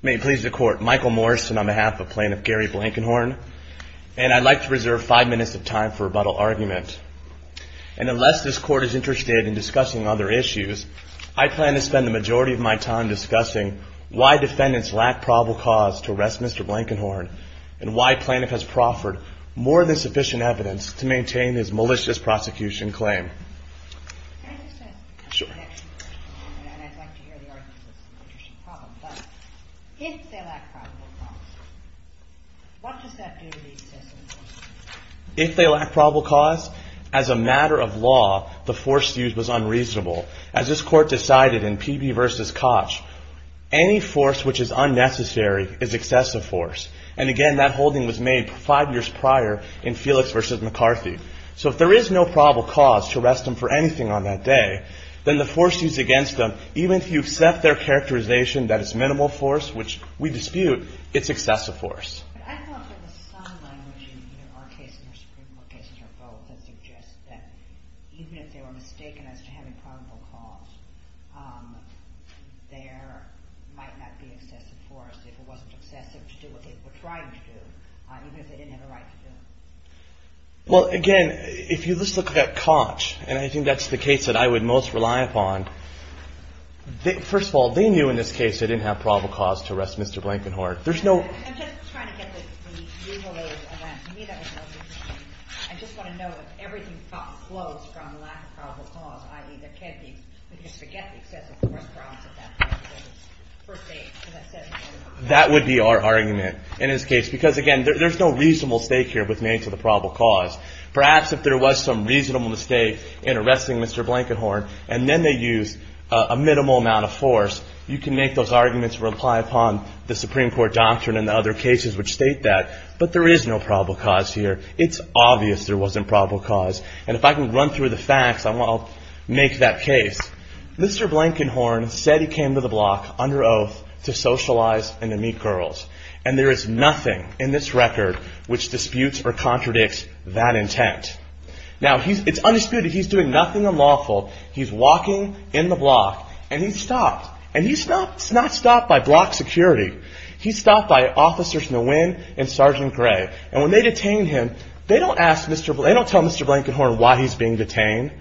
May it please the Court, Michael Morrison on behalf of Plaintiff Gary Blankenhorn, and I'd like to reserve five minutes of time for rebuttal argument, and unless this Court is interested in discussing other issues, I plan to spend the majority of my time discussing why defendants lack probable cause to arrest Mr. Blankenhorn, and why Plaintiff has proffered more than sufficient evidence to maintain his malicious prosecution claim. If they lack probable cause, as a matter of law, the force used was unreasonable. As this Court decided in PB v. Koch, any force which is unnecessary is excessive force. And again, that holding was made five years prior in Felix v. McCarthy. So if there is no probable cause to arrest him for anything on that day, then the force used against them, even if you accept their characterization that it's minimal force, which we dispute, it's excessive force. Well, again, if you just look at Koch, and I think that's the case that I would most rely upon, first of all, they knew in this case they didn't have probable cause to arrest Mr. Blankenhorn. That would be our argument in this case, because again, there's no reasonable stake here with names of the probable cause. Perhaps if there was some reasonable mistake in arresting Mr. Blankenhorn, and then they used a minimal amount of force, you can make those arguments rely upon the Supreme Court. There is no probable cause here. It's obvious there wasn't probable cause. And if I can run through the facts, I'll make that case. Mr. Blankenhorn said he came to the block under oath to socialize and to meet girls. And there is nothing in this record which disputes or contradicts that intent. Now, it's undisputed, he's doing nothing unlawful. He's walking in the block, and he's stopped. And he's not stopped by block security. He's stopped by Officers Nguyen and Sergeant Gray. And when they detain him, they don't tell Mr. Blankenhorn why he's being detained.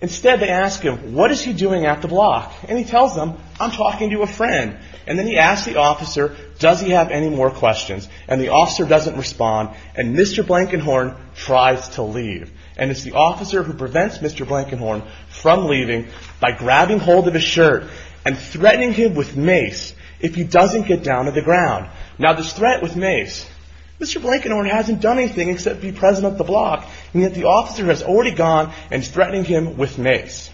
Instead, they ask him, what is he doing at the block? And he tells them, I'm talking to a friend. And then he asks the officer, does he have any more questions? And the officer doesn't respond, and Mr. Blankenhorn tries to leave. And it's the officer who prevents Mr. Blankenhorn from leaving by grabbing hold of his shirt and threatening him with mace if he doesn't get down to the ground. Now, this threat with mace, Mr. Blankenhorn hasn't done anything except be present at the block, and yet the officer has already gone and is threatening him with mace.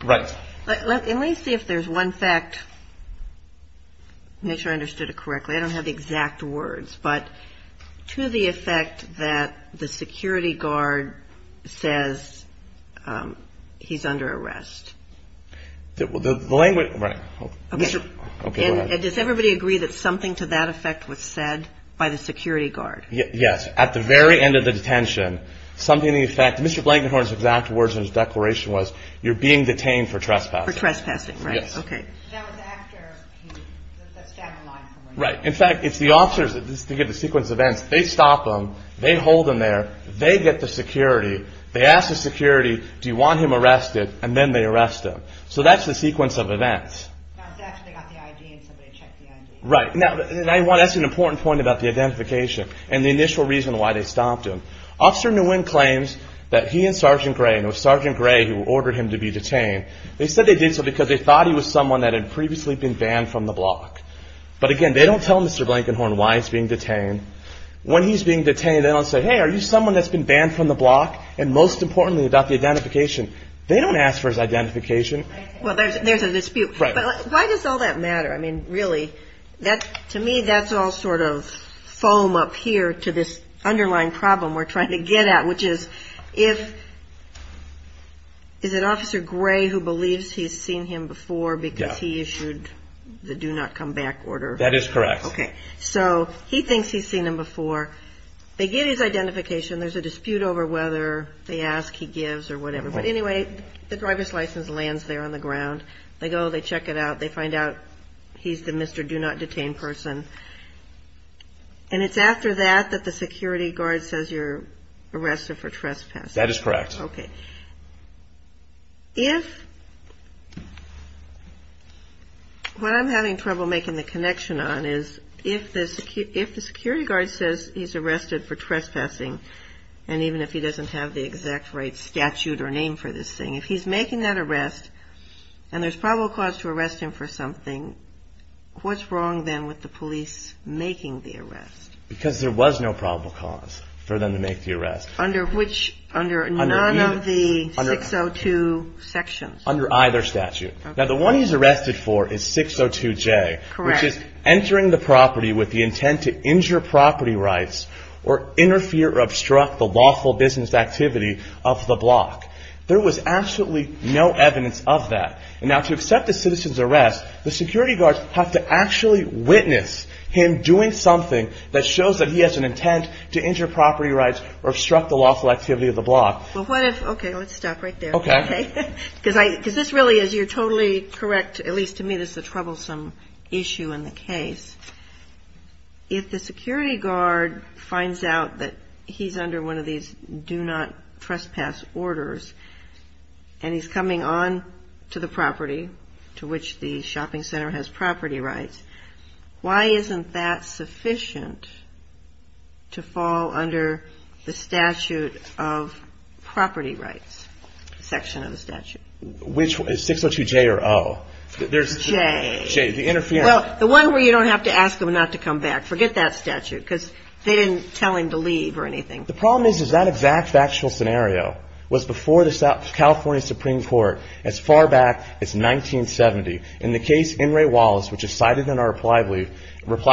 And let me see if there's one fact, make sure I understood it correctly. I don't have the exact words, but to the effect that the security guard says he's under arrest. Does everybody agree that something to that effect was said by the security guard? Yes, at the very end of the detention, something to the effect, Mr. Blankenhorn's exact words in his declaration was, you're being detained for trespassing. For trespassing, right, okay. That was after he, that's down the line from where he was. Right, in fact, it's the officers, this is to give the sequence of events, they stop him, they hold him there, they get the security, they ask the security, do you want him arrested? And then they arrest him. So that's the sequence of events. Now, it's after they got the ID and somebody checked the ID. Right, now that's an important point about the identification and the initial reason why they stopped him. Officer Nguyen claims that he and Sergeant Gray, and it was Sergeant Gray who ordered him to be detained. They said they did so because they thought he was someone that had previously been banned from the block. But again, they don't tell Mr. Blankenhorn why he's being detained. When he's being detained, they don't say, hey, are you someone that's been banned from the block? And most importantly about the identification, they don't ask for his identification. Well, there's a dispute, but why does all that matter? I mean, really, to me, that's all sort of foam up here to this underlying problem we're trying to get at, which is, is it Officer Gray who believes he's seen him before because he issued the do not come back order? That is correct. Okay, so he thinks he's seen him before. They get his identification. There's a dispute over whether they ask, he gives, or whatever. But anyway, the driver's license lands there on the ground. They go, they check it out. They find out he's the Mr. Do not detain person. And it's after that that the security guard says you're arrested for trespassing. That is correct. Okay. What I'm having trouble making the connection on is if the security guard says he's arrested for trespassing, and even if he doesn't have the exact right statute or name for this thing, if he's making that arrest, and there's probable cause to arrest him for something, what's wrong then with the police making the arrest? Because there was no probable cause for them to make the arrest. Under which, under none of the 602 sections. Under either statute. Now the one he's arrested for is 602J. Correct. Which is entering the property with the intent to injure property rights or interfere or obstruct the lawful business activity of the block. There was absolutely no evidence of that. Now to accept a citizen's arrest, the security guards have to actually witness him doing something that shows that he has an intent to injure property rights or obstruct the lawful activity of the block. Okay. Let's stop right there. Okay. Because this really is, you're totally correct, at least to me, this is a troublesome issue in the case. If the security guard finds out that he's under one of these do not trespass orders, and he's coming on to the property to which the shopping center has property rights, why isn't that sufficient to fall under the statute of property rights? Section of the statute. Which, 602J or O? J. J, the interference. Well, the one where you don't have to ask him not to come back. Forget that statute, because they didn't tell him to leave or anything. The problem is, is that exact factual scenario was before the California Supreme Court as far back as 1970. In the case, In re Wallace, which is cited in our reply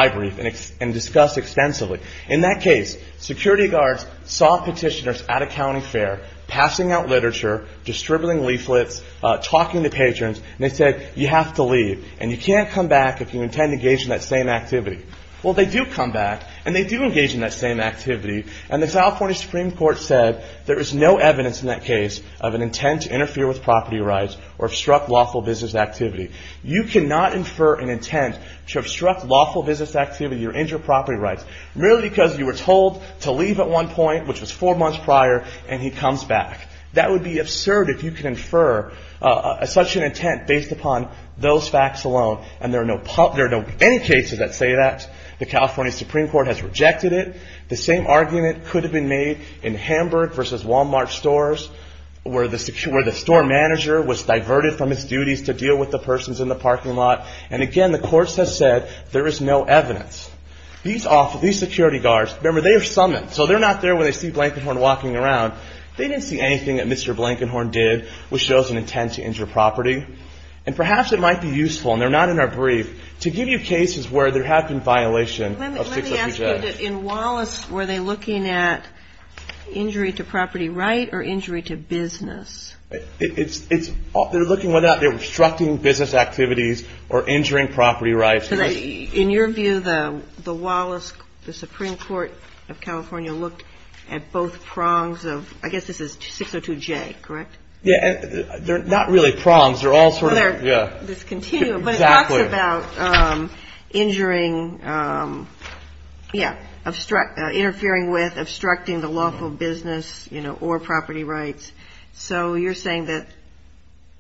brief and discussed extensively. In that case, security guards saw petitioners at a county fair passing out literature, distributing leaflets, talking to patrons, and they said, you have to leave. And you can't come back if you intend to engage in that same activity. Well, they do come back, and they do engage in that same activity. And the California Supreme Court said there is no evidence in that case of an intent to interfere with property rights or obstruct lawful business activity. You cannot infer an intent to obstruct lawful business activity or injure property rights. Merely because you were told to leave at one point, which was four months prior, and he comes back. That would be absurd if you could infer such an intent based upon those facts alone. And there are no any cases that say that. The California Supreme Court has rejected it. The same argument could have been made in Hamburg versus Walmart stores, where the store manager was diverted from his duties to deal with the persons in the parking lot. And again, the courts have said there is no evidence. These security guards, remember, they are summoned. So they're not there when they see Blankenhorn walking around. They didn't see anything that Mr. Blankenhorn did which shows an intent to injure property. And perhaps it might be useful, and they're not in our brief, to give you cases where there have been violations of 6WJ. Let me ask you, in Wallace, were they looking at injury to property right or injury to business? They're looking at obstructing business activities or injuring property rights. In your view, the Wallace, the Supreme Court of California looked at both prongs of, I guess this is 602J, correct? Yeah. They're not really prongs. They're all sort of, yeah. They're discontinued. Exactly. But it talks about injuring, yeah, interfering with, obstructing the lawful business, you know, or property rights. So you're saying that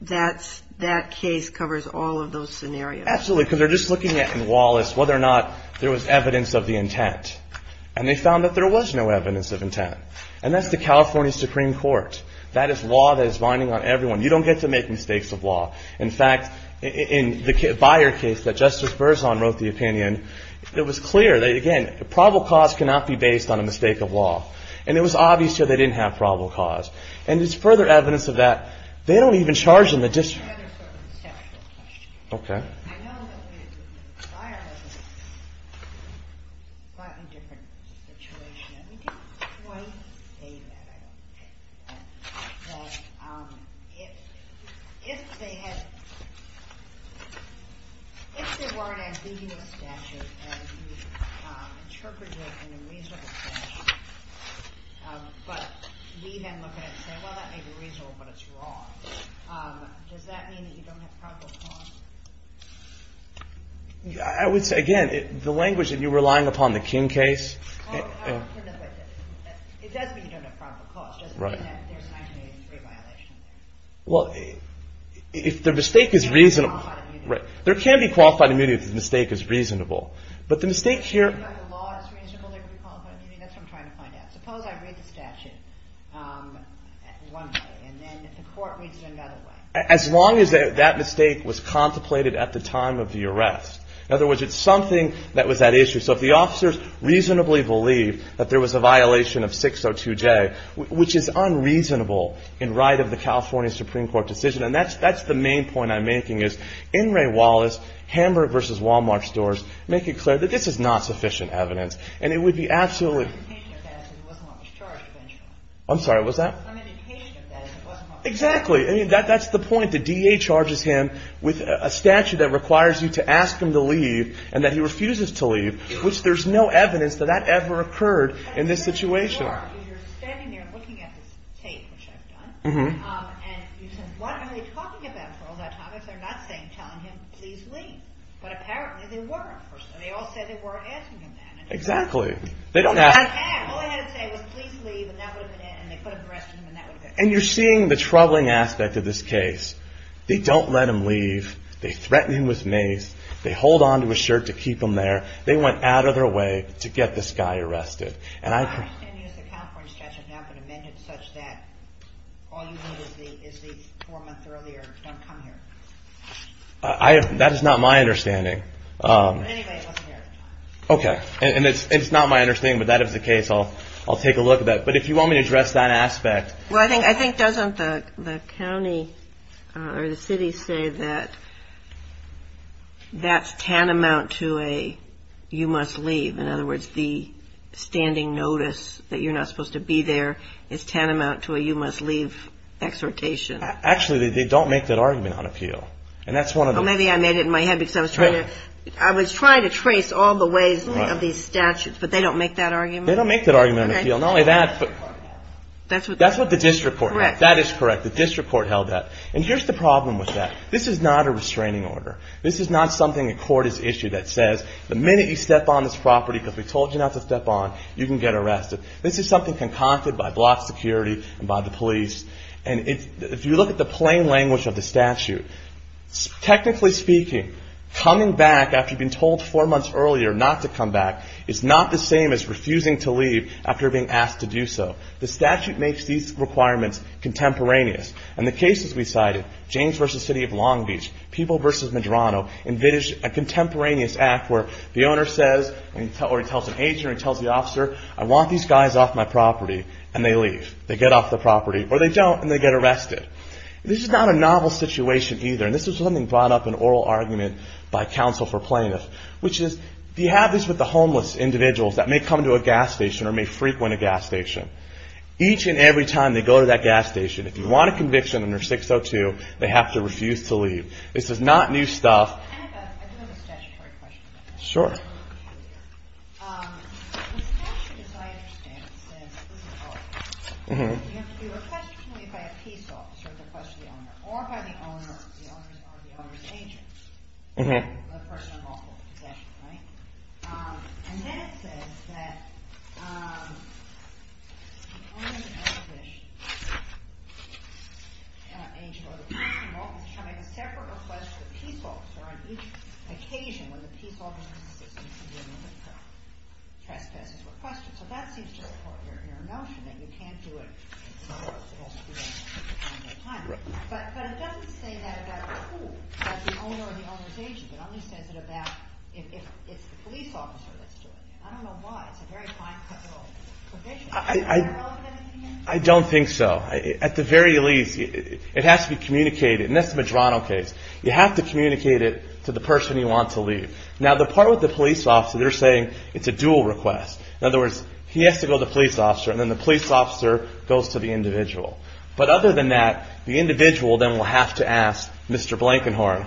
that case covers all of those scenarios. Absolutely, because they're just looking at in Wallace whether or not there was evidence of the intent. And they found that there was no evidence of intent. And that's the California Supreme Court. That is law that is binding on everyone. You don't get to make mistakes of law. In fact, in the Beyer case that Justice Berzon wrote the opinion, it was clear that, again, probable cause cannot be based on a mistake of law. And it was obvious here they didn't have probable cause. And there's further evidence of that. They don't even charge in the district. I have another sort of conceptual question. Okay. I know that the Beyer was in a slightly different situation. And we didn't quite say that, I don't think. But if they had, if there were an ambiguous statute and you interpreted it in a reasonable fashion, but we then look at it and say, well, that may be reasonable, but it's wrong. Does that mean that you don't have probable cause? I would say, again, the language that you were relying upon in the King case. It does mean you don't have probable cause. It doesn't mean that there's 1983 violation there. Well, if the mistake is reasonable. There can be qualified immunity if the mistake is reasonable. But the mistake here. If the law is reasonable, there can be qualified immunity. That's what I'm trying to find out. Suppose I read the statute one way and then the court reads it another way. As long as that mistake was contemplated at the time of the arrest. In other words, it's something that was at issue. So if the officers reasonably believe that there was a violation of 602J, which is unreasonable in right of the California Supreme Court decision, and that's the main point I'm making is, Hamburg versus Wal-Mart stores make it clear that this is not sufficient evidence. And it would be absolutely. I'm sorry. What's that? Exactly. That's the point. The D.A. charges him with a statute that requires you to ask him to leave and that he refuses to leave, which there's no evidence that that ever occurred in this situation. You're standing there looking at this tape, which I've done, and you say, what are they talking about for all that time? If they're not saying, telling him, please leave. But apparently they weren't. They all said they weren't asking him that. Exactly. They don't ask. All they had to say was, please leave, and that would have been it, and they could have arrested him and that would have been it. And you're seeing the troubling aspect of this case. They don't let him leave. They threaten him with mace. They hold on to his shirt to keep him there. They went out of their way to get this guy arrested. My understanding is the California statute has now been amended such that all you need is the four months earlier, don't come here. That is not my understanding. But anyway, it wasn't there at the time. Okay. And it's not my understanding, but that is the case. I'll take a look at that. But if you want me to address that aspect. Well, I think doesn't the county or the city say that that's tantamount to a you must leave? In other words, the standing notice that you're not supposed to be there is tantamount to a you must leave exhortation. Actually, they don't make that argument on appeal. And that's one of the. Well, maybe I made it in my head because I was trying to. I was trying to trace all the ways of these statutes, but they don't make that argument. They don't make that argument on appeal. Not only that, but that's what the district court held. That is correct. The district court held that. And here's the problem with that. This is not a restraining order. This is not something a court has issued that says the minute you step on this property because we told you not to step on, you can get arrested. This is something concocted by block security and by the police. And if you look at the plain language of the statute, technically speaking, coming back after being told four months earlier not to come back is not the same as refusing to leave after being asked to do so. The statute makes these requirements contemporaneous. And the cases we cited, James v. City of Long Beach, People v. Medrano, envisage a contemporaneous act where the owner says or he tells an agent or he tells the officer, I want these guys off my property. And they leave. They get off the property. Or they don't and they get arrested. This is not a novel situation either. And this is something brought up in oral argument by counsel for plaintiffs, which is do you have this with the homeless individuals that may come to a gas station or may frequent a gas station? Each and every time they go to that gas station, if you want a conviction under 602, they have to refuse to leave. This is not new stuff. Sure. I don't think so. At the very least, it has to be communicated. And that's the Medrano case. You have to communicate it to the person you want to leave. Now, the part with the police officer, they're saying it's a dual request. In other words, he has to go to the police officer and then the police officer goes to the individual. But other than that, the individual then will have to ask Mr. Blankenhorn.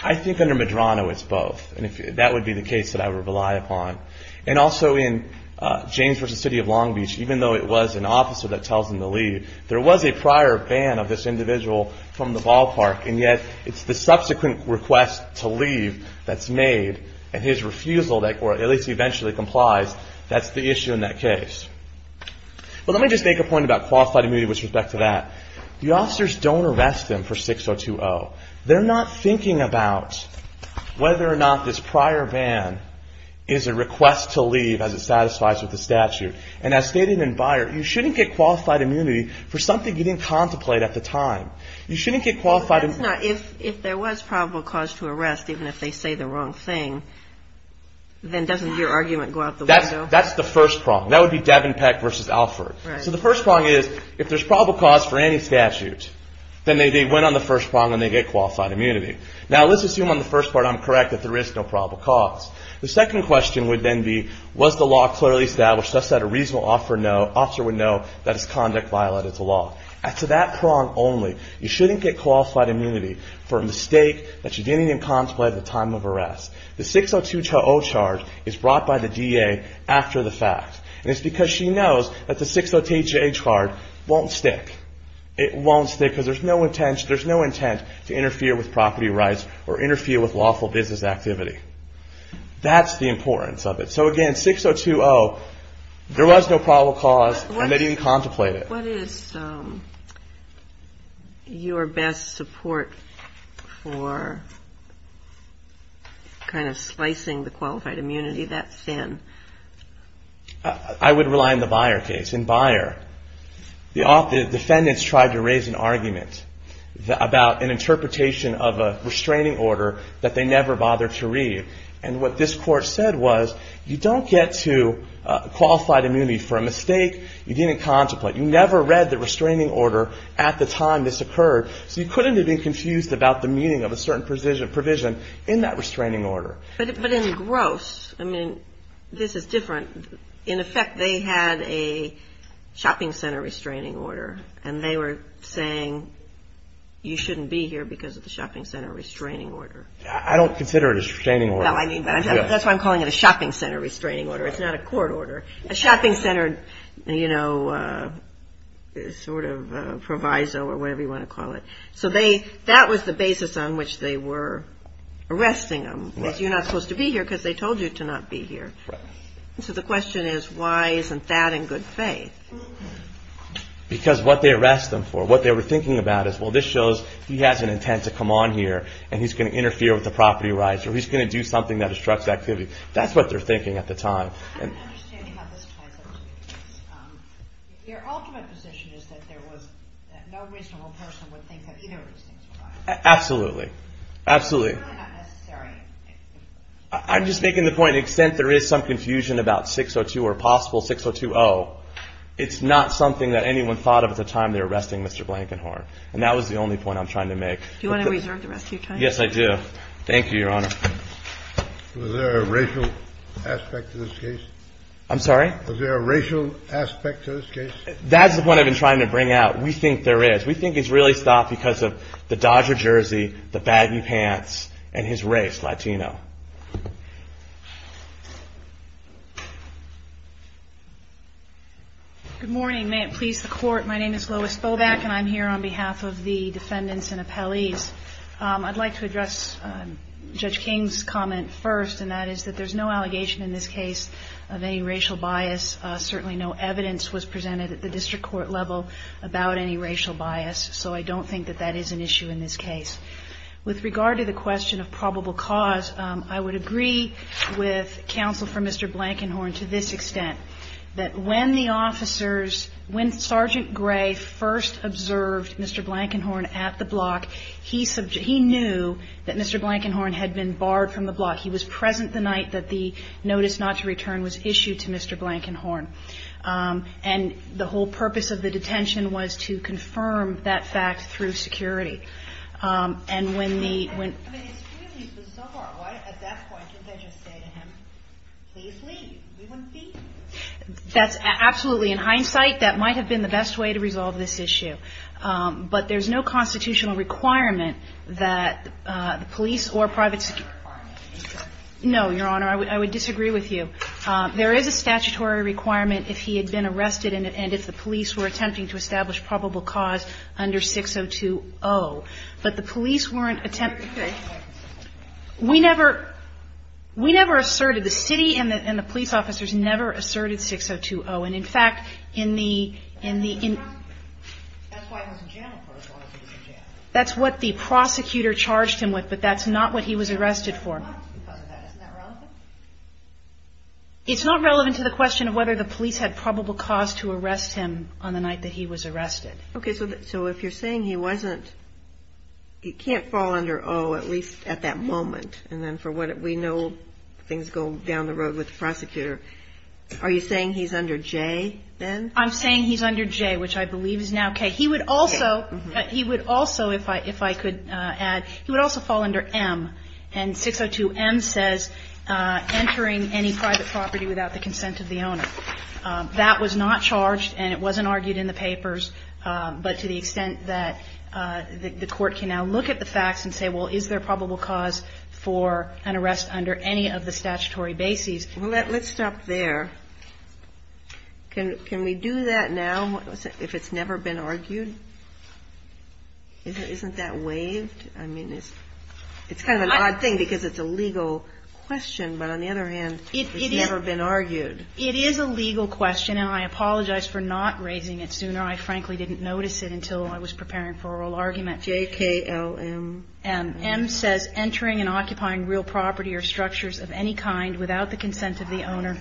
I think under Medrano, it's both. And that would be the case that I would rely upon. And also in James v. City of Long Beach, even though it was an officer that tells him to leave, there was a prior ban of this individual from the ballpark. And yet, it's the subsequent request to leave that's made. And his refusal, or at least he eventually complies, that's the issue in that case. But let me just make a point about qualified immunity with respect to that. The officers don't arrest him for 602-0. They're not thinking about whether or not this prior ban is a request to leave as it satisfies with the statute. And as stated in Beyer, you shouldn't get qualified immunity for something you didn't contemplate at the time. If there was probable cause to arrest, even if they say the wrong thing, then doesn't your argument go out the window? That's the first prong. That would be Devin Peck v. Alford. So the first prong is, if there's probable cause for any statute, then they went on the first prong and they get qualified immunity. Now, let's assume on the first part I'm correct that there is no probable cause. The second question would then be, was the law clearly established such that a reasonable officer would know that his conduct violated the law? As to that prong only, you shouldn't get qualified immunity for a mistake that you didn't even contemplate at the time of arrest. The 602-0 charge is brought by the DA after the fact. And it's because she knows that the 602-A charge won't stick. It won't stick because there's no intent to interfere with property rights or interfere with lawful business activity. That's the importance of it. So, again, 602-0, there was no probable cause and they didn't contemplate it. What is your best support for kind of slicing the qualified immunity that thin? I would rely on the Beyer case. In Beyer, the defendants tried to raise an argument about an interpretation of a restraining order that they never bothered to read. And what this court said was, you don't get to qualified immunity for a mistake you didn't contemplate. You never read the restraining order at the time this occurred. So you couldn't have been confused about the meaning of a certain provision in that restraining order. But in Gross, I mean, this is different. In effect, they had a shopping center restraining order. And they were saying you shouldn't be here because of the shopping center restraining order. I don't consider it a restraining order. That's why I'm calling it a shopping center restraining order. It's not a court order. A shopping center, you know, sort of proviso or whatever you want to call it. So that was the basis on which they were arresting them. You're not supposed to be here because they told you to not be here. So the question is, why isn't that in good faith? Because what they arrest them for, what they were thinking about is, well, this shows he has an intent to come on here and he's going to interfere with the property rights or he's going to do something that obstructs activity. That's what they're thinking at the time. I don't understand how this ties up to the case. Your ultimate position is that there was no reasonable person would think that either of these things were right. Absolutely. Absolutely. It's really not necessary. I'm just making the point, the extent there is some confusion about 602 or possible 602-0, it's not something that anyone thought of at the time they were arresting Mr. Blankenhorn. And that was the only point I'm trying to make. Do you want to reserve the rest of your time? Yes, I do. Thank you, Your Honor. Was there a racial aspect to this case? I'm sorry? Was there a racial aspect to this case? That's the point I've been trying to bring out. We think there is. We think it's really stopped because of the Dodger jersey, the baggy pants, and his race, Latino. Good morning. May it please the Court. My name is Lois Boback, and I'm here on behalf of the defendants and appellees. I'd like to address Judge King's comment first, and that is that there's no allegation in this case of any racial bias. Certainly no evidence was presented at the district court level about any racial bias, so I don't think that that is an issue in this case. With regard to the question of probable cause, I would agree with counsel for Mr. Blankenhorn to this extent, that when the officers, when Sergeant Gray first observed Mr. Blankenhorn at the block, he knew that Mr. Blankenhorn had been barred from the block. He was present the night that the notice not to return was issued to Mr. Blankenhorn. And the whole purpose of the detention was to confirm that fact through security. And when the... I mean, it's clearly bizarre. Why, at that point, didn't they just say to him, please leave? We wouldn't be here. That's absolutely in hindsight. That might have been the best way to resolve this issue. But there's no constitutional requirement that the police or private security... No, Your Honor, I would disagree with you. There is a statutory requirement if he had been arrested and if the police were attempting to establish probable cause under 6020. But the police weren't attempting... We never asserted. The city and the police officers never asserted 6020. And, in fact, in the... That's what the prosecutor charged him with, but that's not what he was arrested for. It's not relevant to the question of whether the police had probable cause to arrest him on the night that he was arrested. Okay, so if you're saying he wasn't... He can't fall under O, at least at that moment. And then for what we know, things go down the road with the prosecutor. Are you saying he's under J, then? I'm saying he's under J, which I believe is now K. He would also, if I could add, he would also fall under M. And 602 M says entering any private property without the consent of the owner. That was not charged, and it wasn't argued in the papers, but to the extent that the court can now look at the facts and say, well, is there probable cause for an arrest under any of the statutory bases? Well, let's stop there. Can we do that now if it's never been argued? Isn't that waived? I mean, it's kind of an odd thing because it's a legal question, but on the other hand, it's never been argued. It is a legal question, and I apologize for not raising it sooner. I frankly didn't notice it until I was preparing for oral argument. J, K, L, M. M says entering and occupying real property or structures of any kind without the consent of the owner.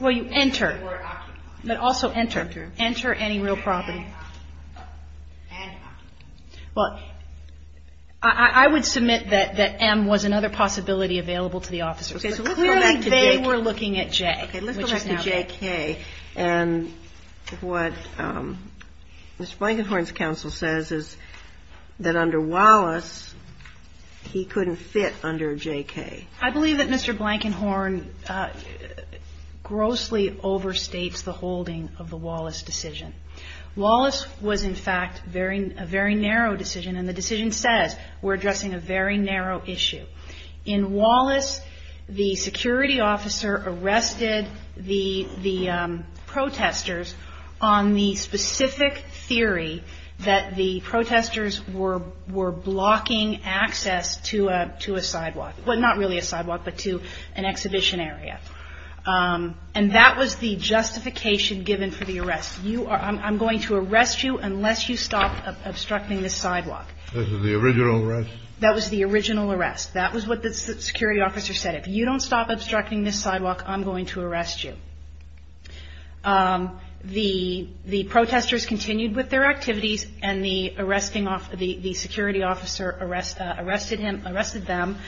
Well, you enter. But also enter. Enter any real property. Well, I would submit that M was another possibility available to the officers. Clearly, they were looking at J. K. Let's go back to J. K., and what Mr. Blankenhorn's counsel says is that under Wallace, he couldn't fit under J. K. I believe that Mr. Blankenhorn grossly overstates the holding of the Wallace decision. Wallace was, in fact, a very narrow decision, and the decision says we're addressing a very narrow issue. In Wallace, the security officer arrested the protestors on the specific theory that the protestors were blocking access to a sidewalk. Well, not really a sidewalk, but to an exhibition area. And that was the justification given for the arrest. I'm going to arrest you unless you stop obstructing the sidewalk. This was the original arrest? That was the original arrest. That was what the security officer said. If you don't stop obstructing this sidewalk, I'm going to arrest you. The protestors continued with their activities, and the arresting off the security officer arrested him, arrested them,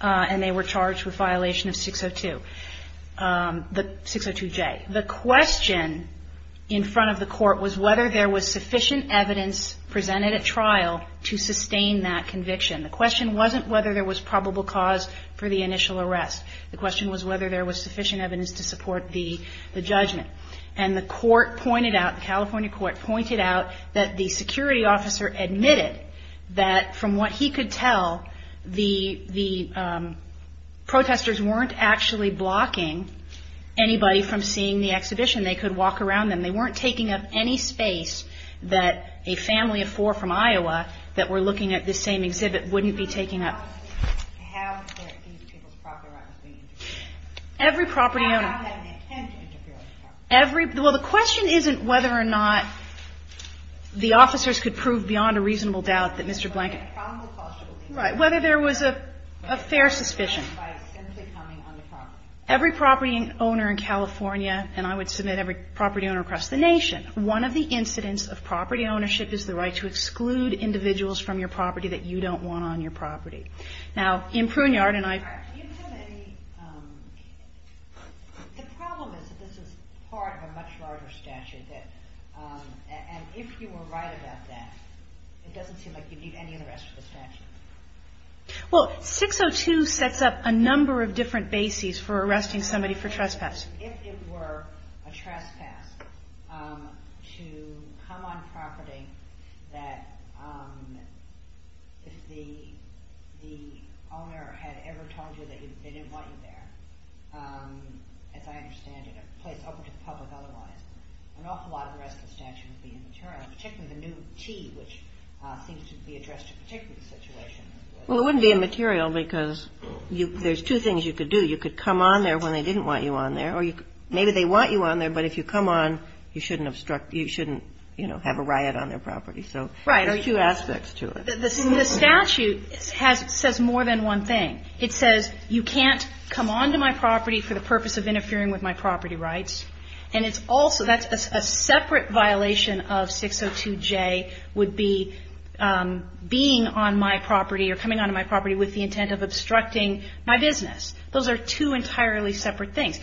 and they were charged with violation of 602. The 602J. The question in front of the court was whether there was sufficient evidence presented at trial to sustain that conviction. The question wasn't whether there was probable cause for the initial arrest. The question was whether there was sufficient evidence to support the judgment. And the court pointed out, the California court pointed out that the security officer admitted that from what he could tell, the protestors weren't actually blocking anybody from seeing the exhibition. They could walk around them. They weren't taking up any space that a family of four from Iowa that were looking at this same exhibit wouldn't be taking up. Every property owner. Well, the question isn't whether or not the officers could prove beyond a reasonable doubt that Mr. Blanket. Right. Whether there was a fair suspicion. Every property owner in California, and I would submit every property owner across from your property that you don't want on your property. Now, in Pruneyard, and I've. Do you have any, the problem is that this is part of a much larger statute, and if you were right about that, it doesn't seem like you'd need any arrest for the statute. Well, 602 sets up a number of different bases for arresting somebody for trespass. If it were a trespass to come on property that if the owner had ever told you that they didn't want you there, as I understand it, a place open to the public otherwise, an awful lot of the rest of the statute would be immaterial, particularly the new T, which seems to be addressed to particular situations. Well, it wouldn't be immaterial because there's two things you could do. You could come on there when they didn't want you on there, or maybe they want you on there, but if you come on, you shouldn't obstruct, you shouldn't, you know, have a riot on their property. So there are two aspects to it. The statute says more than one thing. It says you can't come on to my property for the purpose of interfering with my property rights. And it's also, that's a separate violation of 602J would be being on my property or coming on to my property with the intent of obstructing my business. Those are two entirely separate things.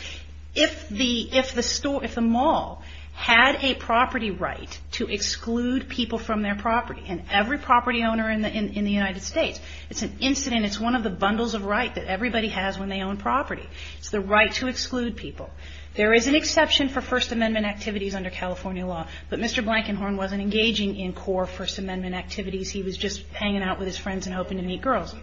If the store, if the mall had a property right to exclude people from their property, and every property owner in the United States, it's an incident, it's one of the bundles of right that everybody has when they own property. It's the right to exclude people. There is an exception for First Amendment activities under California law, but Mr. Blankenhorn wasn't engaging in core First Amendment activities. He was just hanging out with his friends and hoping to meet girls.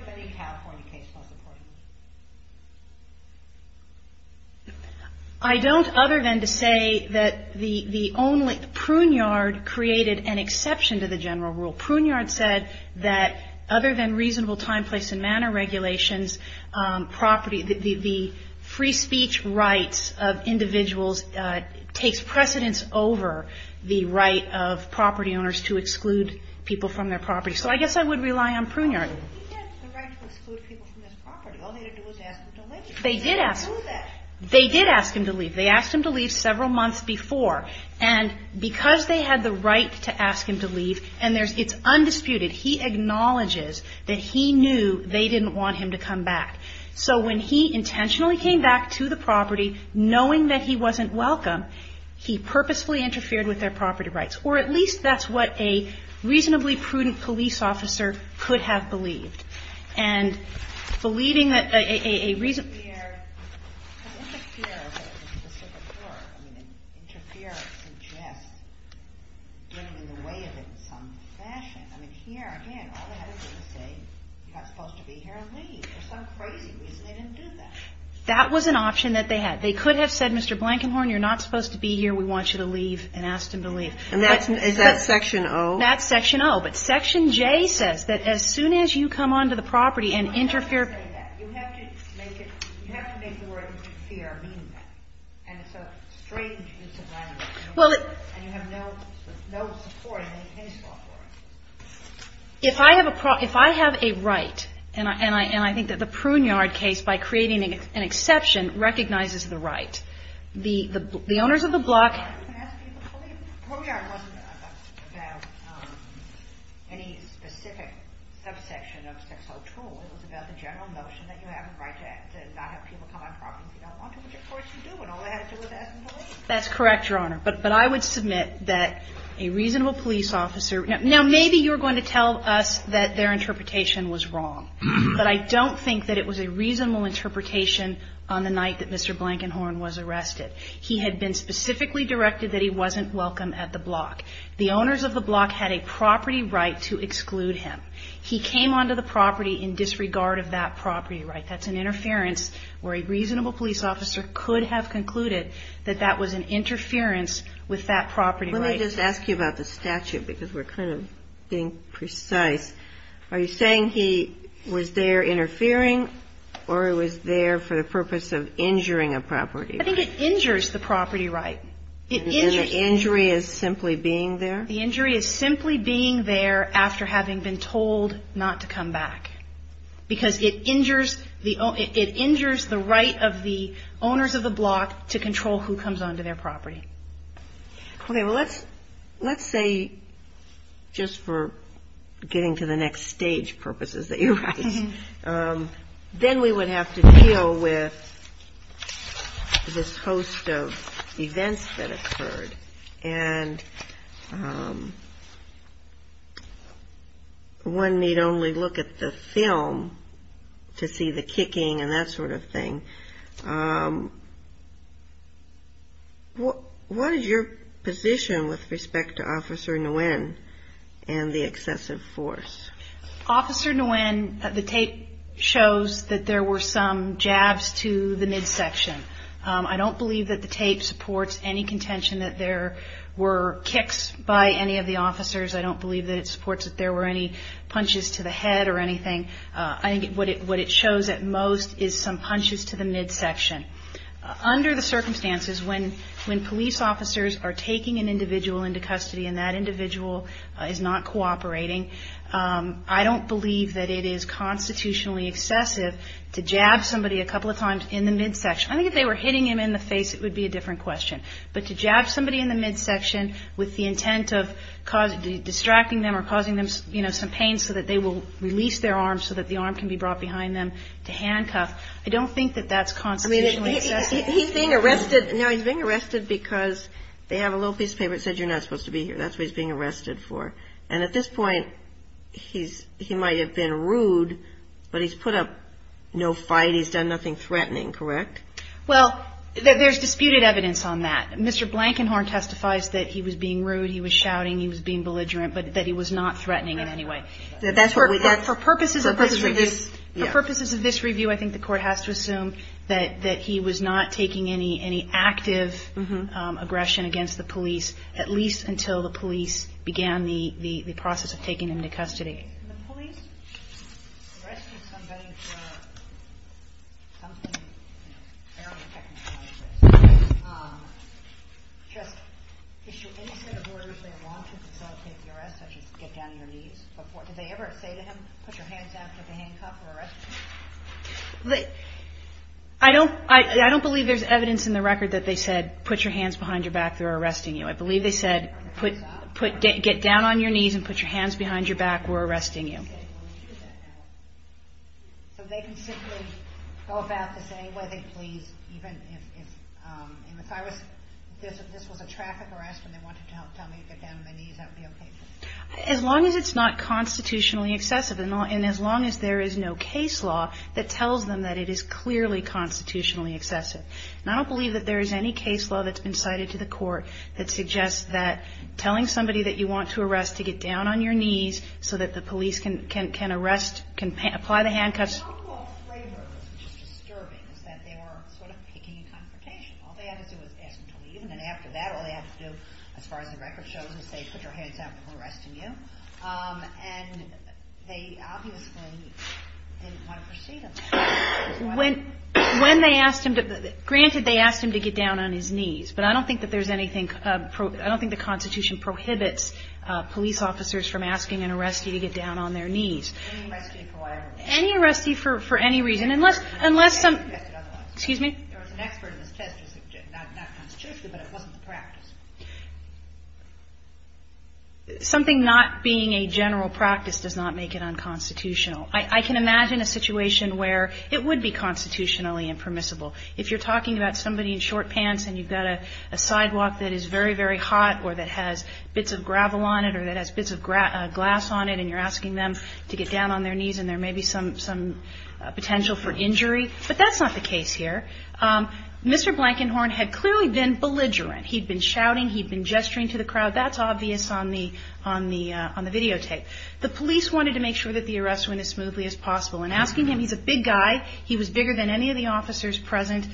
I don't other than to say that the only, Pruneyard created an exception to the general rule. Pruneyard said that other than reasonable time, place and manner regulations, property, the free speech rights of individuals takes precedence over the right of property owners to exclude people from their property. So I guess I would rely on Pruneyard. He had the right to exclude people from his property. All he had to do was ask them to leave. They didn't do that. They did ask him to leave. They asked him to leave several months before. And because they had the right to ask him to leave, and it's undisputed, he acknowledges that he knew they didn't want him to come back. So when he intentionally came back to the property knowing that he wasn't welcome, he purposefully interfered with their property rights. Or at least that's what a reasonably prudent police officer could have believed. And believing that a reason to be here, because if a fear of a specific word, I mean, interference suggests getting in the way of it in some fashion. I mean, here, again, all they had to do was say, you're not supposed to be here and leave for some crazy reason. They didn't do that. That was an option that they had. They could have said, Mr. Blankenhorn, you're not supposed to be here. We want you to leave, and asked him to leave. And that's section O. That's section O. But section J says that as soon as you come onto the property and interfere You have to make the word interfere mean that. And it's a strange use of language. And you have no support in any case law for it. If I have a right, and I think that the Pruneyard case, by creating an exception, recognizes the right. The owners of the block can ask people to leave. Pruneyard wasn't about any specific subsection of section O2. It was about the general notion that you have a right to not have people come on property if you don't want to, which, of course, you do. And all they had to do was ask them to leave. That's correct, Your Honor. But I would submit that a reasonable police officer Now, maybe you're going to tell us that their interpretation was wrong. But I don't think that it was a reasonable interpretation on the night that Mr. Blankenhorn was arrested. He had been specifically directed that he wasn't welcome at the block. The owners of the block had a property right to exclude him. He came onto the property in disregard of that property right. That's an interference where a reasonable police officer could have concluded that that was an interference with that property right. Let me just ask you about the statute because we're kind of being precise. Are you saying he was there interfering or he was there for the purpose of injuring a property right? I think it injures the property right. And the injury is simply being there? The injury is simply being there after having been told not to come back because it injures the right of the owners of the block to control who comes onto their property. Okay. Well, let's say just for getting to the next stage purposes that you raise, then we would have to deal with this host of events that occurred. And one need only look at the film to see the kicking and that sort of thing. What is your position with respect to Officer Nguyen and the excessive force? Officer Nguyen, the tape shows that there were some jabs to the midsection. I don't believe that the tape supports any contention that there were kicks by any of the officers. I don't believe that it supports that there were any punches to the head or anything. I think what it shows at most is some punches to the midsection. Under the circumstances, when police officers are taking an individual into custody and that individual is not cooperating, I don't believe that it is constitutionally excessive to jab somebody a couple of times in the midsection. I think if they were hitting him in the face, it would be a different question. But to jab somebody in the midsection with the intent of distracting them or causing them, you know, some pain so that they will release their arms so that the arm can be brought behind them to handcuff, I don't think that that's constitutionally excessive. He's being arrested. No, he's being arrested because they have a little piece of paper that says you're not supposed to be here. That's what he's being arrested for. And at this point, he might have been rude, but he's put up no fight. He's done nothing threatening, correct? Well, there's disputed evidence on that. Mr. Blankenhorn testifies that he was being rude, he was shouting, he was being belligerent, but that he was not threatening in any way. For purposes of this review, I think the court has to assume that he was not taking any active aggression against the police, at least until the police began the process of taking him into custody. The police arrested somebody for something fairly technical, I guess. Just issued any set of orders they wanted to facilitate the arrest, such as get down on your knees. Did they ever say to him, put your hands down, get the handcuff, or arrest him? I don't believe there's evidence in the record that they said, put your hands behind your back, they're arresting you. I believe they said, get down on your knees and put your hands behind your back, we're arresting you. So they can simply go about this any way they please, even if this was a traffic arrest and they wanted to tell me to get down on my knees, that would be okay? As long as it's not constitutionally excessive and as long as there is no case law that tells them that it is clearly constitutionally excessive. And I don't believe that there is any case law that's been cited to the court that suggests that telling somebody that you want to arrest to get down on your knees so that the police can arrest, can apply the handcuffs. The handcuff labor was just disturbing, is that they were sort of picking a confrontation. All they had to do was ask him to leave, and then after that all they had to do, as far as the record shows, is say, put your hands down, we're arresting you. And they obviously didn't want to proceed on that. When they asked him to, granted they asked him to get down on his knees, but I don't think that there's anything, I don't think the constitution prohibits police officers from asking an arrestee to get down on their knees. Any arrestee for whatever reason. Any arrestee for any reason, unless, unless some, excuse me? There was an expert in this test who said not constitutionally, but it wasn't the practice. Something not being a general practice does not make it unconstitutional. I can imagine a situation where it would be constitutionally impermissible. If you're talking about somebody in short pants and you've got a sidewalk that is very, very hot or that has bits of gravel on it or that has bits of glass on it and you're potential for injury. But that's not the case here. Mr. Blankenhorn had clearly been belligerent. He'd been shouting, he'd been gesturing to the crowd. That's obvious on the videotape. The police wanted to make sure that the arrests went as smoothly as possible. And asking him, he's a big guy, he was bigger than any of the officers present,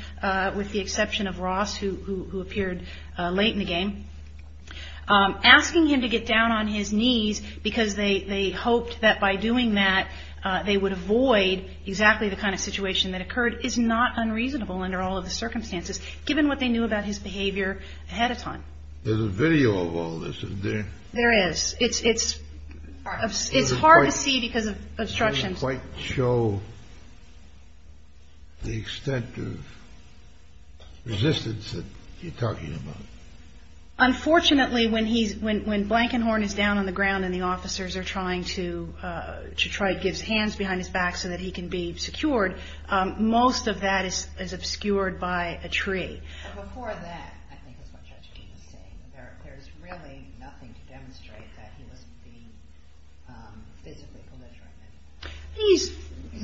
with the exception of Ross, who appeared late in the game. Asking him to get down on his knees because they hoped that by doing that, they would avoid exactly the kind of situation that occurred is not unreasonable under all of the circumstances, given what they knew about his behavior ahead of time. There's a video of all this, isn't there? There is. It's hard to see because of obstructions. It doesn't quite show the extent of resistance that you're talking about. Unfortunately, when Blankenhorn is down on the ground and the officers are trying to get his hands behind his back so that he can be secured, most of that is obscured by a tree. Before that, there's really nothing to demonstrate that he was being physically belligerent. He's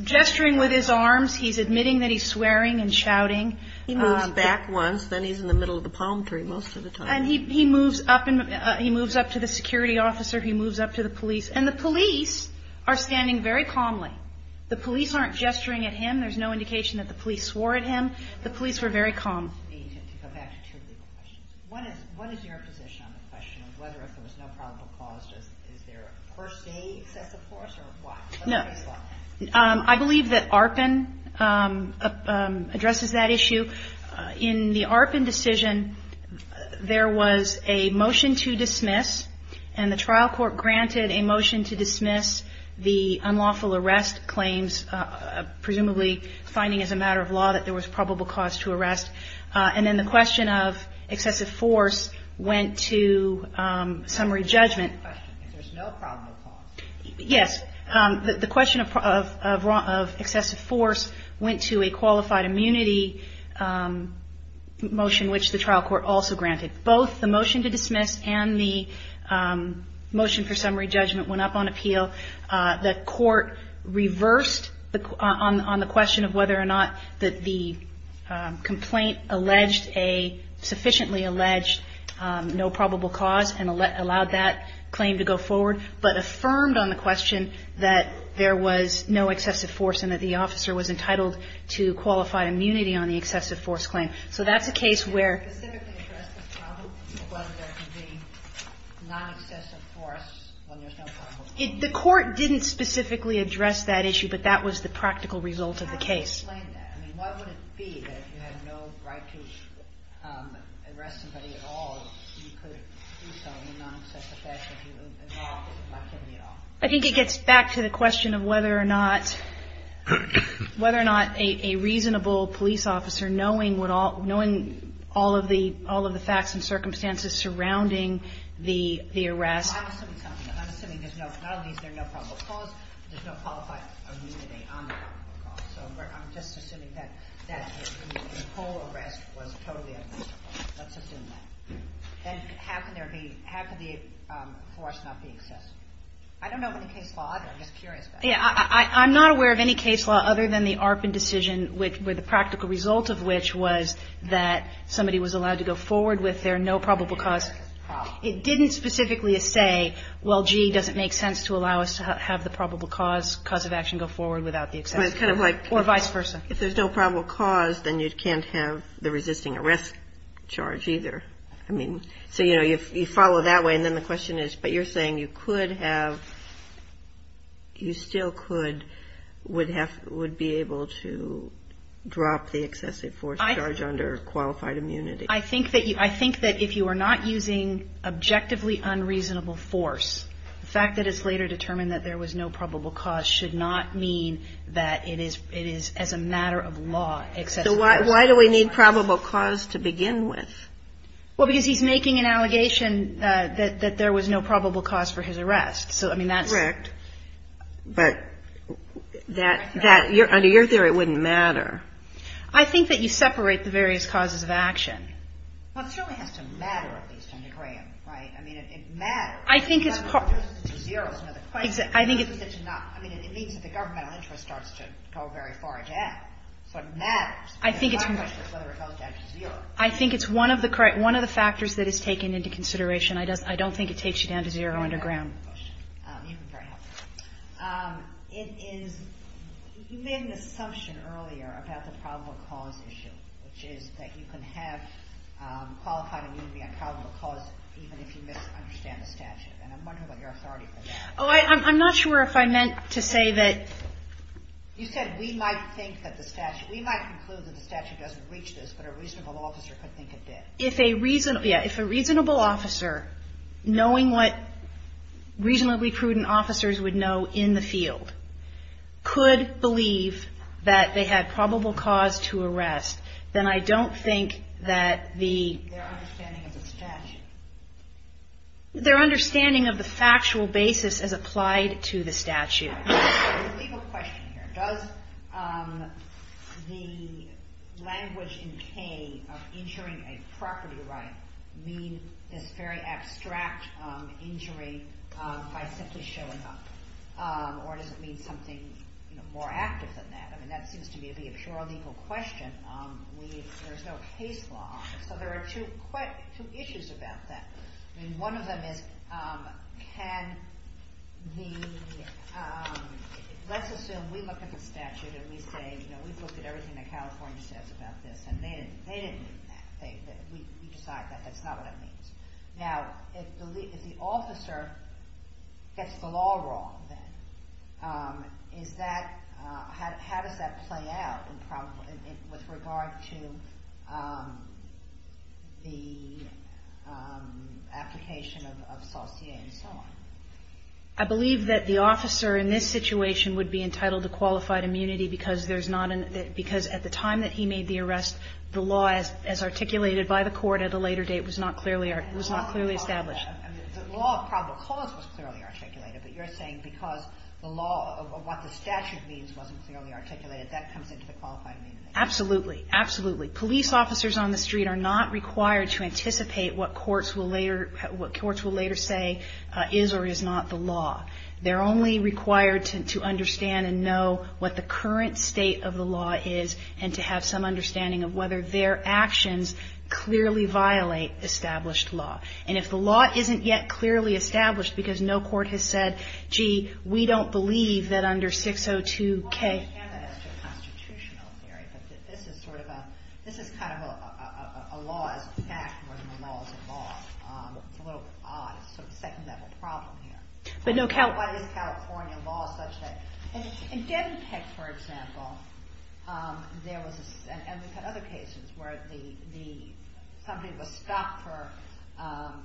gesturing with his arms, he's admitting that he's swearing and shouting. He moves back once, then he's in the middle of the palm tree most of the time. And he moves up to the security officer, he moves up to the police. And the police are standing very calmly. The police aren't gesturing at him. There's no indication that the police swore at him. The police were very calm. To go back to two legal questions. One is your position on the question of whether if there was no probable cause, is there a first day excessive force or what? No. I believe that ARPAN addresses that issue. In the ARPAN decision, there was a motion to dismiss, and the trial court granted a motion to dismiss the unlawful arrest claims, presumably finding as a matter of law that there was probable cause to arrest. And then the question of excessive force went to summary judgment. There's no probable cause. Yes. The question of excessive force went to a qualified immunity motion, which the trial court also granted. Both the motion to dismiss and the motion for summary judgment went up on appeal. The court reversed on the question of whether or not the complaint sufficiently alleged no probable cause and allowed that claim to go forward, but affirmed on the question that there was no excessive force and that the officer was entitled to qualified immunity on the excessive force claim. So that's a case where the court didn't specifically address that issue, but that was the practical result of the case. I mean, why would it be that if you had no right to arrest somebody at all, you could do so in a non-excessive fashion if you were involved in the activity at all? I think it gets back to the question of whether or not a reasonable police officer, knowing all of the facts and circumstances surrounding the arrest. I'm assuming something. I'm assuming there's no – not only is there no probable cause, there's no qualified immunity on the probable cause. So I'm just assuming that the whole arrest was totally admissible. Let's assume that. And how can there be – how can the force not be excessive? I don't know of any case law. I'm just curious about that. I'm not aware of any case law other than the Arpin decision, where the practical result of which was that somebody was allowed to go forward with their no probable cause. It didn't specifically say, well, gee, does it make sense to allow us to have the probable cause of action go forward without the excessive force, or vice versa. If there's no probable cause, then you can't have the resisting arrest charge either. I mean, so, you know, you follow that way. And then the question is, but you're saying you could have – you still could would be able to drop the excessive force charge under qualified immunity. I think that you – I think that if you are not using objectively unreasonable force, the fact that it's later determined that there was no probable cause should not mean that it is – it is as a matter of law excessive force. So why do we need probable cause to begin with? Well, because he's making an allegation that there was no probable cause for his arrest. So, I mean, that's – Correct. But that – under your theory, it wouldn't matter. I think that you separate the various causes of action. Well, it certainly has to matter, at least, under Graham, right? I mean, it matters. I think it's part – If it's zero, it's another question. I think it's – I mean, it means that the governmental interest starts to go very far down. So it matters. I think it's – My question is whether it goes down to zero. I think it's one of the – one of the factors that is taken into consideration. I don't think it takes you down to zero under Graham. You've been very helpful. It is – you made an assumption earlier about the probable cause issue, which is that you can have qualified immunity on probable cause even if you misunderstand the statute. And I'm wondering what your authority for that is. Oh, I'm not sure if I meant to say that – You said we might think that the statute – we might conclude that the statute doesn't reach this, but a reasonable officer could think it did. If a reasonable – yeah, if a reasonable officer, knowing what reasonably prudent officers would know in the field, could believe that they had probable cause to arrest, then I don't think that the – Their understanding of the statute. Their understanding of the factual basis as applied to the statute. I'm going to leave a question here. Does the language in K of insuring a property right mean this very abstract injury by simply showing up? Or does it mean something, you know, more active than that? I mean, that seems to me to be a purely legal question. There's no case law on it. So there are two issues about that. I mean, one of them is can the – let's assume we look at the statute and we say, you know, we've looked at everything that California says about this, and they didn't mean that. We decide that that's not what it means. Now, if the officer gets the law wrong, then, is that – how does that play out with regard to the application of saucier and so on? I believe that the officer in this situation would be entitled to qualified immunity because there's not – because at the time that he made the arrest, the law as articulated by the court at a later date was not clearly – was not clearly established. The law of probable cause was clearly articulated. But you're saying because the law of what the statute means wasn't clearly articulated, that comes into the qualifying immunity. Absolutely. Absolutely. Police officers on the street are not required to anticipate what courts will later – what courts will later say is or is not the law. They're only required to understand and know what the current state of the law is and to have some understanding of whether their actions clearly violate established law. And if the law isn't yet clearly established because no court has said, gee, we don't believe that under 602K – Well, I understand that as to constitutional theory, but this is sort of a – this is kind of a law as a fact more than a law as a law. It's a little odd. It's sort of a second-level problem here. But no – Why is California law such that – In Debbie Peck, for example, there was – and we've had other cases where the – somebody was stopped for not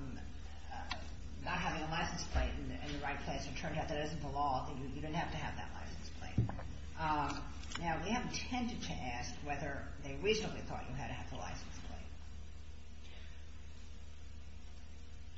having a license plate in the right place and it turned out that isn't the law, that you didn't have to have that license plate. Now, we haven't tended to ask whether they reasonably thought you had to have the license plate.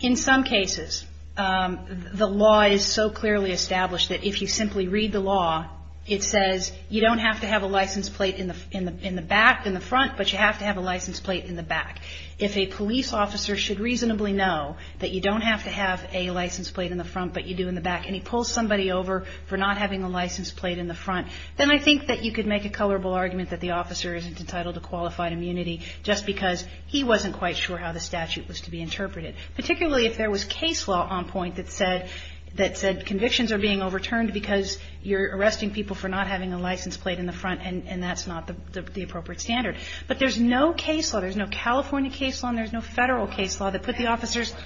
In some cases, the law is so clearly established that if you simply read the law, it says you don't have to have a license plate in the back – in the front, but you have to have a license plate in the back. If a police officer should reasonably know that you don't have to have a license plate in the front, but you do in the back, and he pulls somebody over for not having a license plate in the front, then I think that you could make a colorable argument that the officer isn't entitled to qualified immunity just because he wasn't quite sure how the statute was to be interpreted, particularly if there was case law on point that said – that said convictions are being overturned because you're arresting people for not having a license plate in the front and that's not the appropriate standard. But there's no case law, there's no California case law, and there's no Federal case law that put the officers –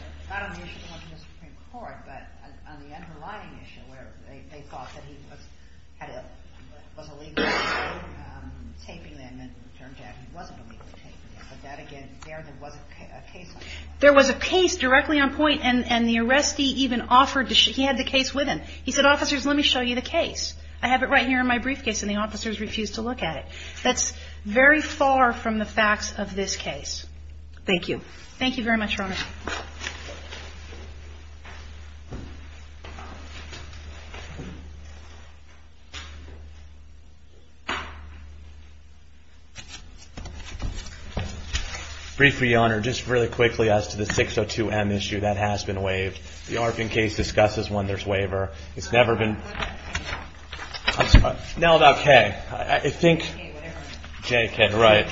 There was a case directly on point, and the arrestee even offered to – he had the case with him. He said, officers, let me show you the case. I have it right here in my briefcase, and the officers refused to look at it. That's very far from the facts of this case. Thank you very much, Your Honor. Briefly, Your Honor, just really quickly as to the 602M issue, that has been waived. The Arvin case discusses when there's waiver. It's never been – What about K? I'm sorry. No, about K. K, whatever. K, K, right.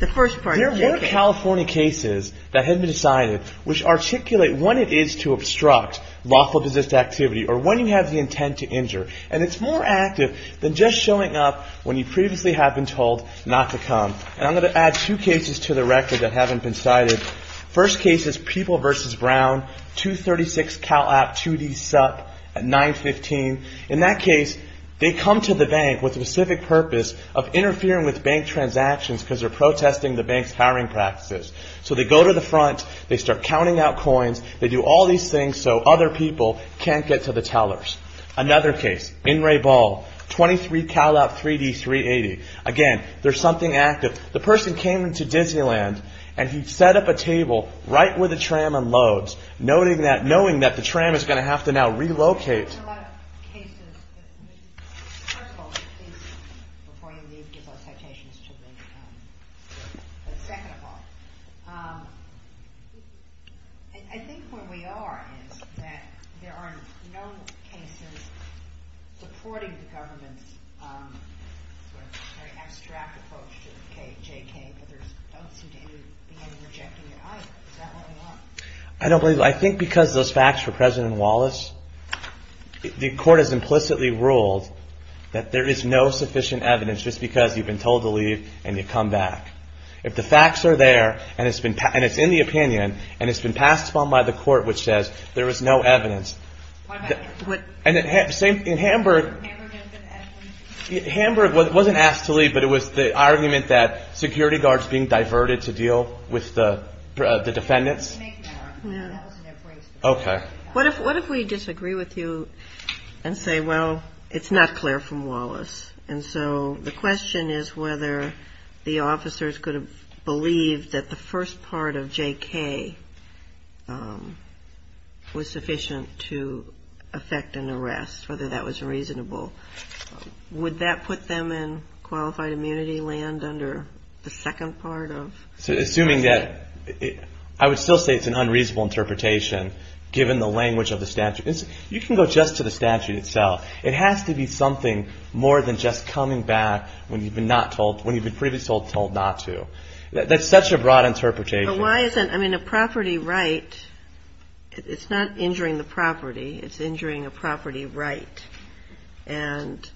The first part is okay. and there were cases that had been decided that had been decided, which articulate when it is to obstruct lawful business activity, or when you have the intent to injure. And it's more active than just showing up when you previously have been told not to come. And I'm going to add two cases to the record that haven't been cited. First case is People v. Brown, 236 Cal App 2D Sup 915. In that case, they come to the bank with a specific purpose of interfering with bank transactions because they're protesting the bank's hiring practices. So they go to the front. They start counting out coins. They do all these things so other people can't get to the tellers. Another case, In Re Ball, 23 Cal App 3D 380. Again, there's something active. The person came to Disneyland, and he set up a table right where the tram unloads, knowing that the tram is going to have to now relocate. There's a lot of cases. First of all, before you leave, give those citations to me. But second of all, I think where we are is that there are known cases supporting the government's sort of very abstract approach to the KJK, but there don't seem to be any rejecting it either. Is that where we are? I don't believe it. I think because those facts for President Wallace, the court has implicitly ruled that there is no sufficient evidence just because you've been told to leave, and you come back. If the facts are there, and it's in the opinion, and it's been passed upon by the court, which says there is no evidence, and in Hamburg, Hamburg wasn't asked to leave, but it was the argument that security guards being diverted to deal with the defendants Okay. What if we disagree with you and say, well, it's not clear from Wallace, and so the question is whether the officers could have believed that the first part of JK was sufficient to affect an arrest, whether that was reasonable. Would that put them in qualified immunity land under the second part of? Assuming that, I would still say it's an unreasonable interpretation given the language of the statute. You can go just to the statute itself. It has to be something more than just coming back when you've been previously told not to. That's such a broad interpretation. But why isn't, I mean, a property right, it's not injuring the property. It's injuring a property right. And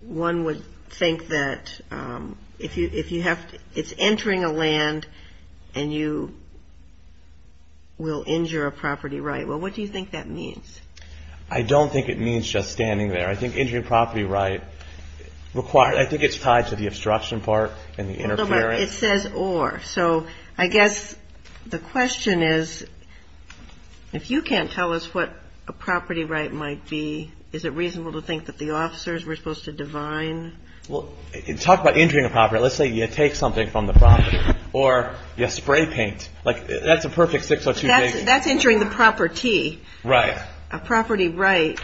one would think that if you have, it's entering a land and you will injure a property right. Well, what do you think that means? I don't think it means just standing there. I think injuring a property right, I think it's tied to the obstruction part and the interference. It says or. So I guess the question is, if you can't tell us what a property right might be, is it reasonable to think that the officers were supposed to divine? Well, talk about injuring a property. Let's say you take something from the property or you spray paint. Like, that's a perfect six or two days. That's injuring the property. Right. A property right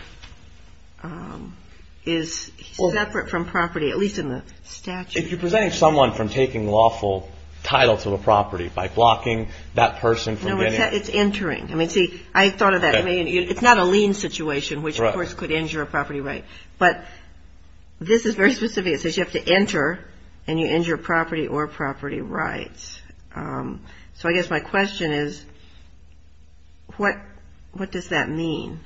is separate from property, at least in the statute. If you're preventing someone from taking lawful title to a property by blocking that person from getting it. It's entering. I mean, see, I thought of that. It's not a lien situation, which, of course, could injure a property right. But this is very specific. It says you have to enter and you injure property or property rights. So I guess my question is, what does that mean?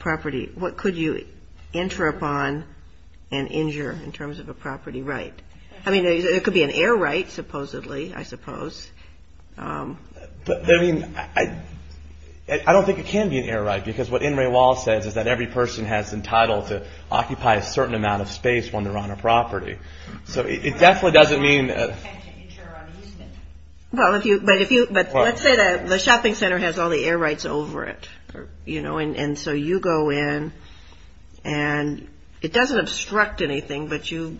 Property. What could you enter upon and injure in terms of a property right? I mean, it could be an air right, supposedly, I suppose. But, I mean, I don't think it can be an air right because what NRA law says is that every person has entitled to occupy a certain amount of space when they're on a property. So it definitely doesn't mean. But let's say the shopping center has all the air rights over it. You know, and so you go in and it doesn't obstruct anything, but you,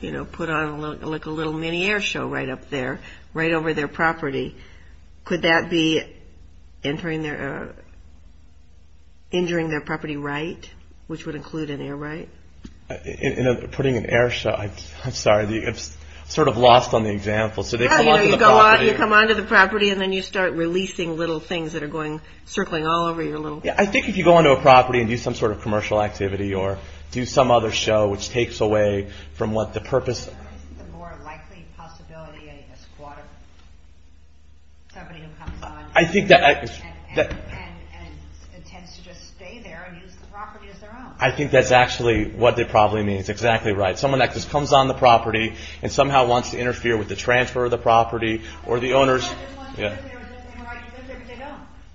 you know, put on like a little mini air show right up there, right over their property. Could that be injuring their property right, which would include an air right? Putting an air show. I'm sorry. I'm sort of lost on the example. So they come on to the property. Yeah, you know, you come on to the property and then you start releasing little things that are going, circling all over your little. Yeah, I think if you go on to a property and do some sort of commercial activity or do some other show, which takes away from what the purpose. The more likely possibility a squad of somebody who comes on. I think that. And intends to just stay there and use the property as their own. I think that's actually what they probably mean. It's exactly right. Someone that just comes on the property and somehow wants to interfere with the transfer of the property or the owners.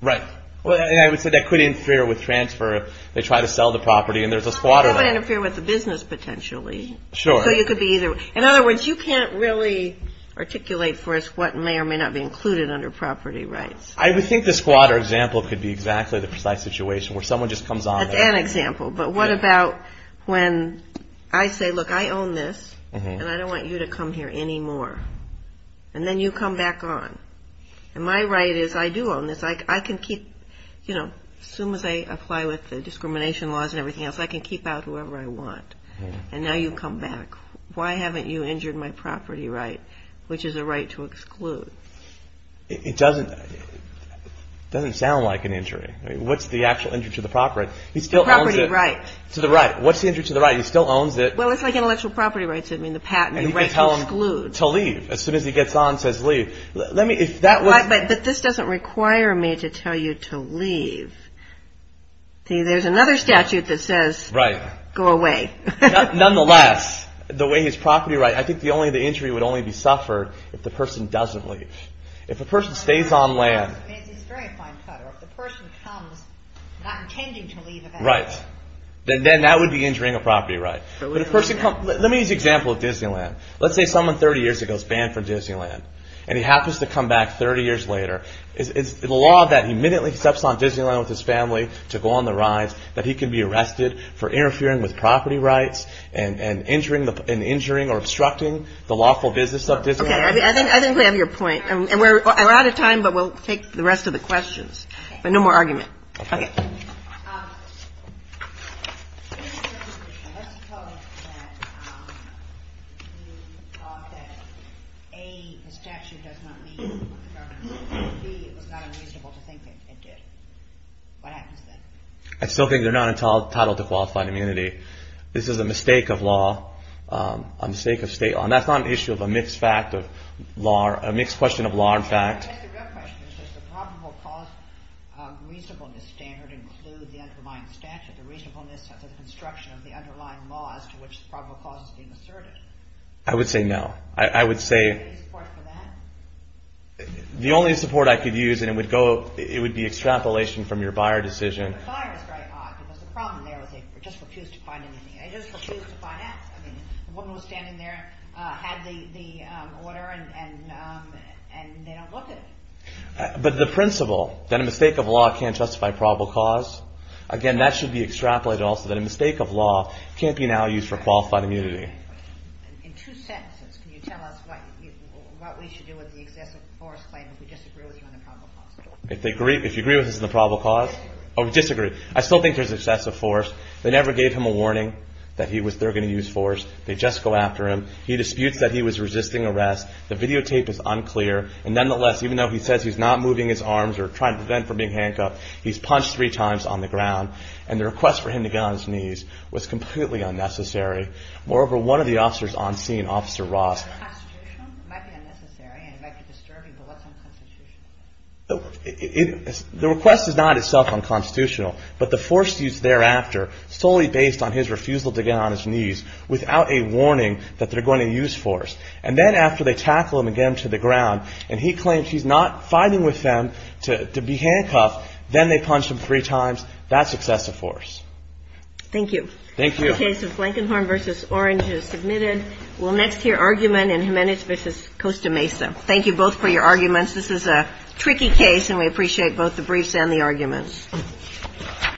Right. Well, I would say that could interfere with transfer. They try to sell the property and there's a squatter. Interfere with the business potentially. Sure. You could be either. In other words, you can't really articulate for us what may or may not be included under property rights. I would think the squatter example could be exactly the precise situation where someone just comes on. That's an example. But what about when I say, look, I own this and I don't want you to come here anymore. And then you come back on. And my right is I do own this. I can keep, you know, as soon as I apply with the discrimination laws and everything else, I can keep out whoever I want. And now you come back. Why haven't you injured my property right, which is a right to exclude? It doesn't sound like an injury. What's the actual injury to the property? He still owns it. The property right. To the right. What's the injury to the right? He still owns it. Well, it's like intellectual property rights. I mean, the patent. And you can tell him to leave as soon as he gets on and says leave. But this doesn't require me to tell you to leave. There's another statute that says go away. Right. Nonetheless, the way his property right, I think the only injury would only be suffered if the person doesn't leave. If a person stays on land. It's a very fine cutter. If the person comes not intending to leave. Right. Then that would be injuring a property right. Let me use the example of Disneyland. Let's say someone 30 years ago is banned from Disneyland. And he happens to come back 30 years later. Is the law that he immediately steps on Disneyland with his family to go on the rides that he can be arrested for interfering with property rights and injuring or obstructing the lawful business of Disneyland? Okay. I think we have your point. And we're out of time, but we'll take the rest of the questions. But no more argument. Okay. I still think they're not entitled to qualified immunity. This is a mistake of law. A mistake of state law. And that's not an issue of a mixed question of law and fact. I guess the real question is does the probable cause reasonableness standard include the underlying statute, the reasonableness of the construction of the underlying laws to which the probable cause is being asserted? I would say no. Do you have any support for that? The only support I could use, and it would be extrapolation from your buyer decision. But the principle that a mistake of law can't justify probable cause, again, that should be extrapolated also that a mistake of law can't be now used for qualified immunity. In two sentences, can you tell us what we should do with the excessive force claim if we disagree with you on the probable cause? If you agree with us on the probable cause? Or disagree. I still think there's excessive force. They never gave him a warning that they're going to use force. They just go after him. He disputes that he was resisting arrest. The videotape is unclear. And nonetheless, even though he says he's not moving his arms or trying to prevent from being handcuffed, he's punched three times on the ground, and the request for him to get on his knees was completely unnecessary. Moreover, one of the officers on scene, Officer Ross. The request is not itself unconstitutional, but the force used thereafter solely based on his refusal to get on his knees without a warning that they're going to use force. And then after they tackle him and get him to the ground, and he claims he's not fighting with them to be handcuffed, then they punch him three times, that's excessive force. Thank you. Thank you. The case of Blankenhorn v. Orange is submitted. We'll next hear argument in Jimenez v. Costa Mesa. Thank you both for your arguments. This is a tricky case, and we appreciate both the briefs and the arguments. Thank you.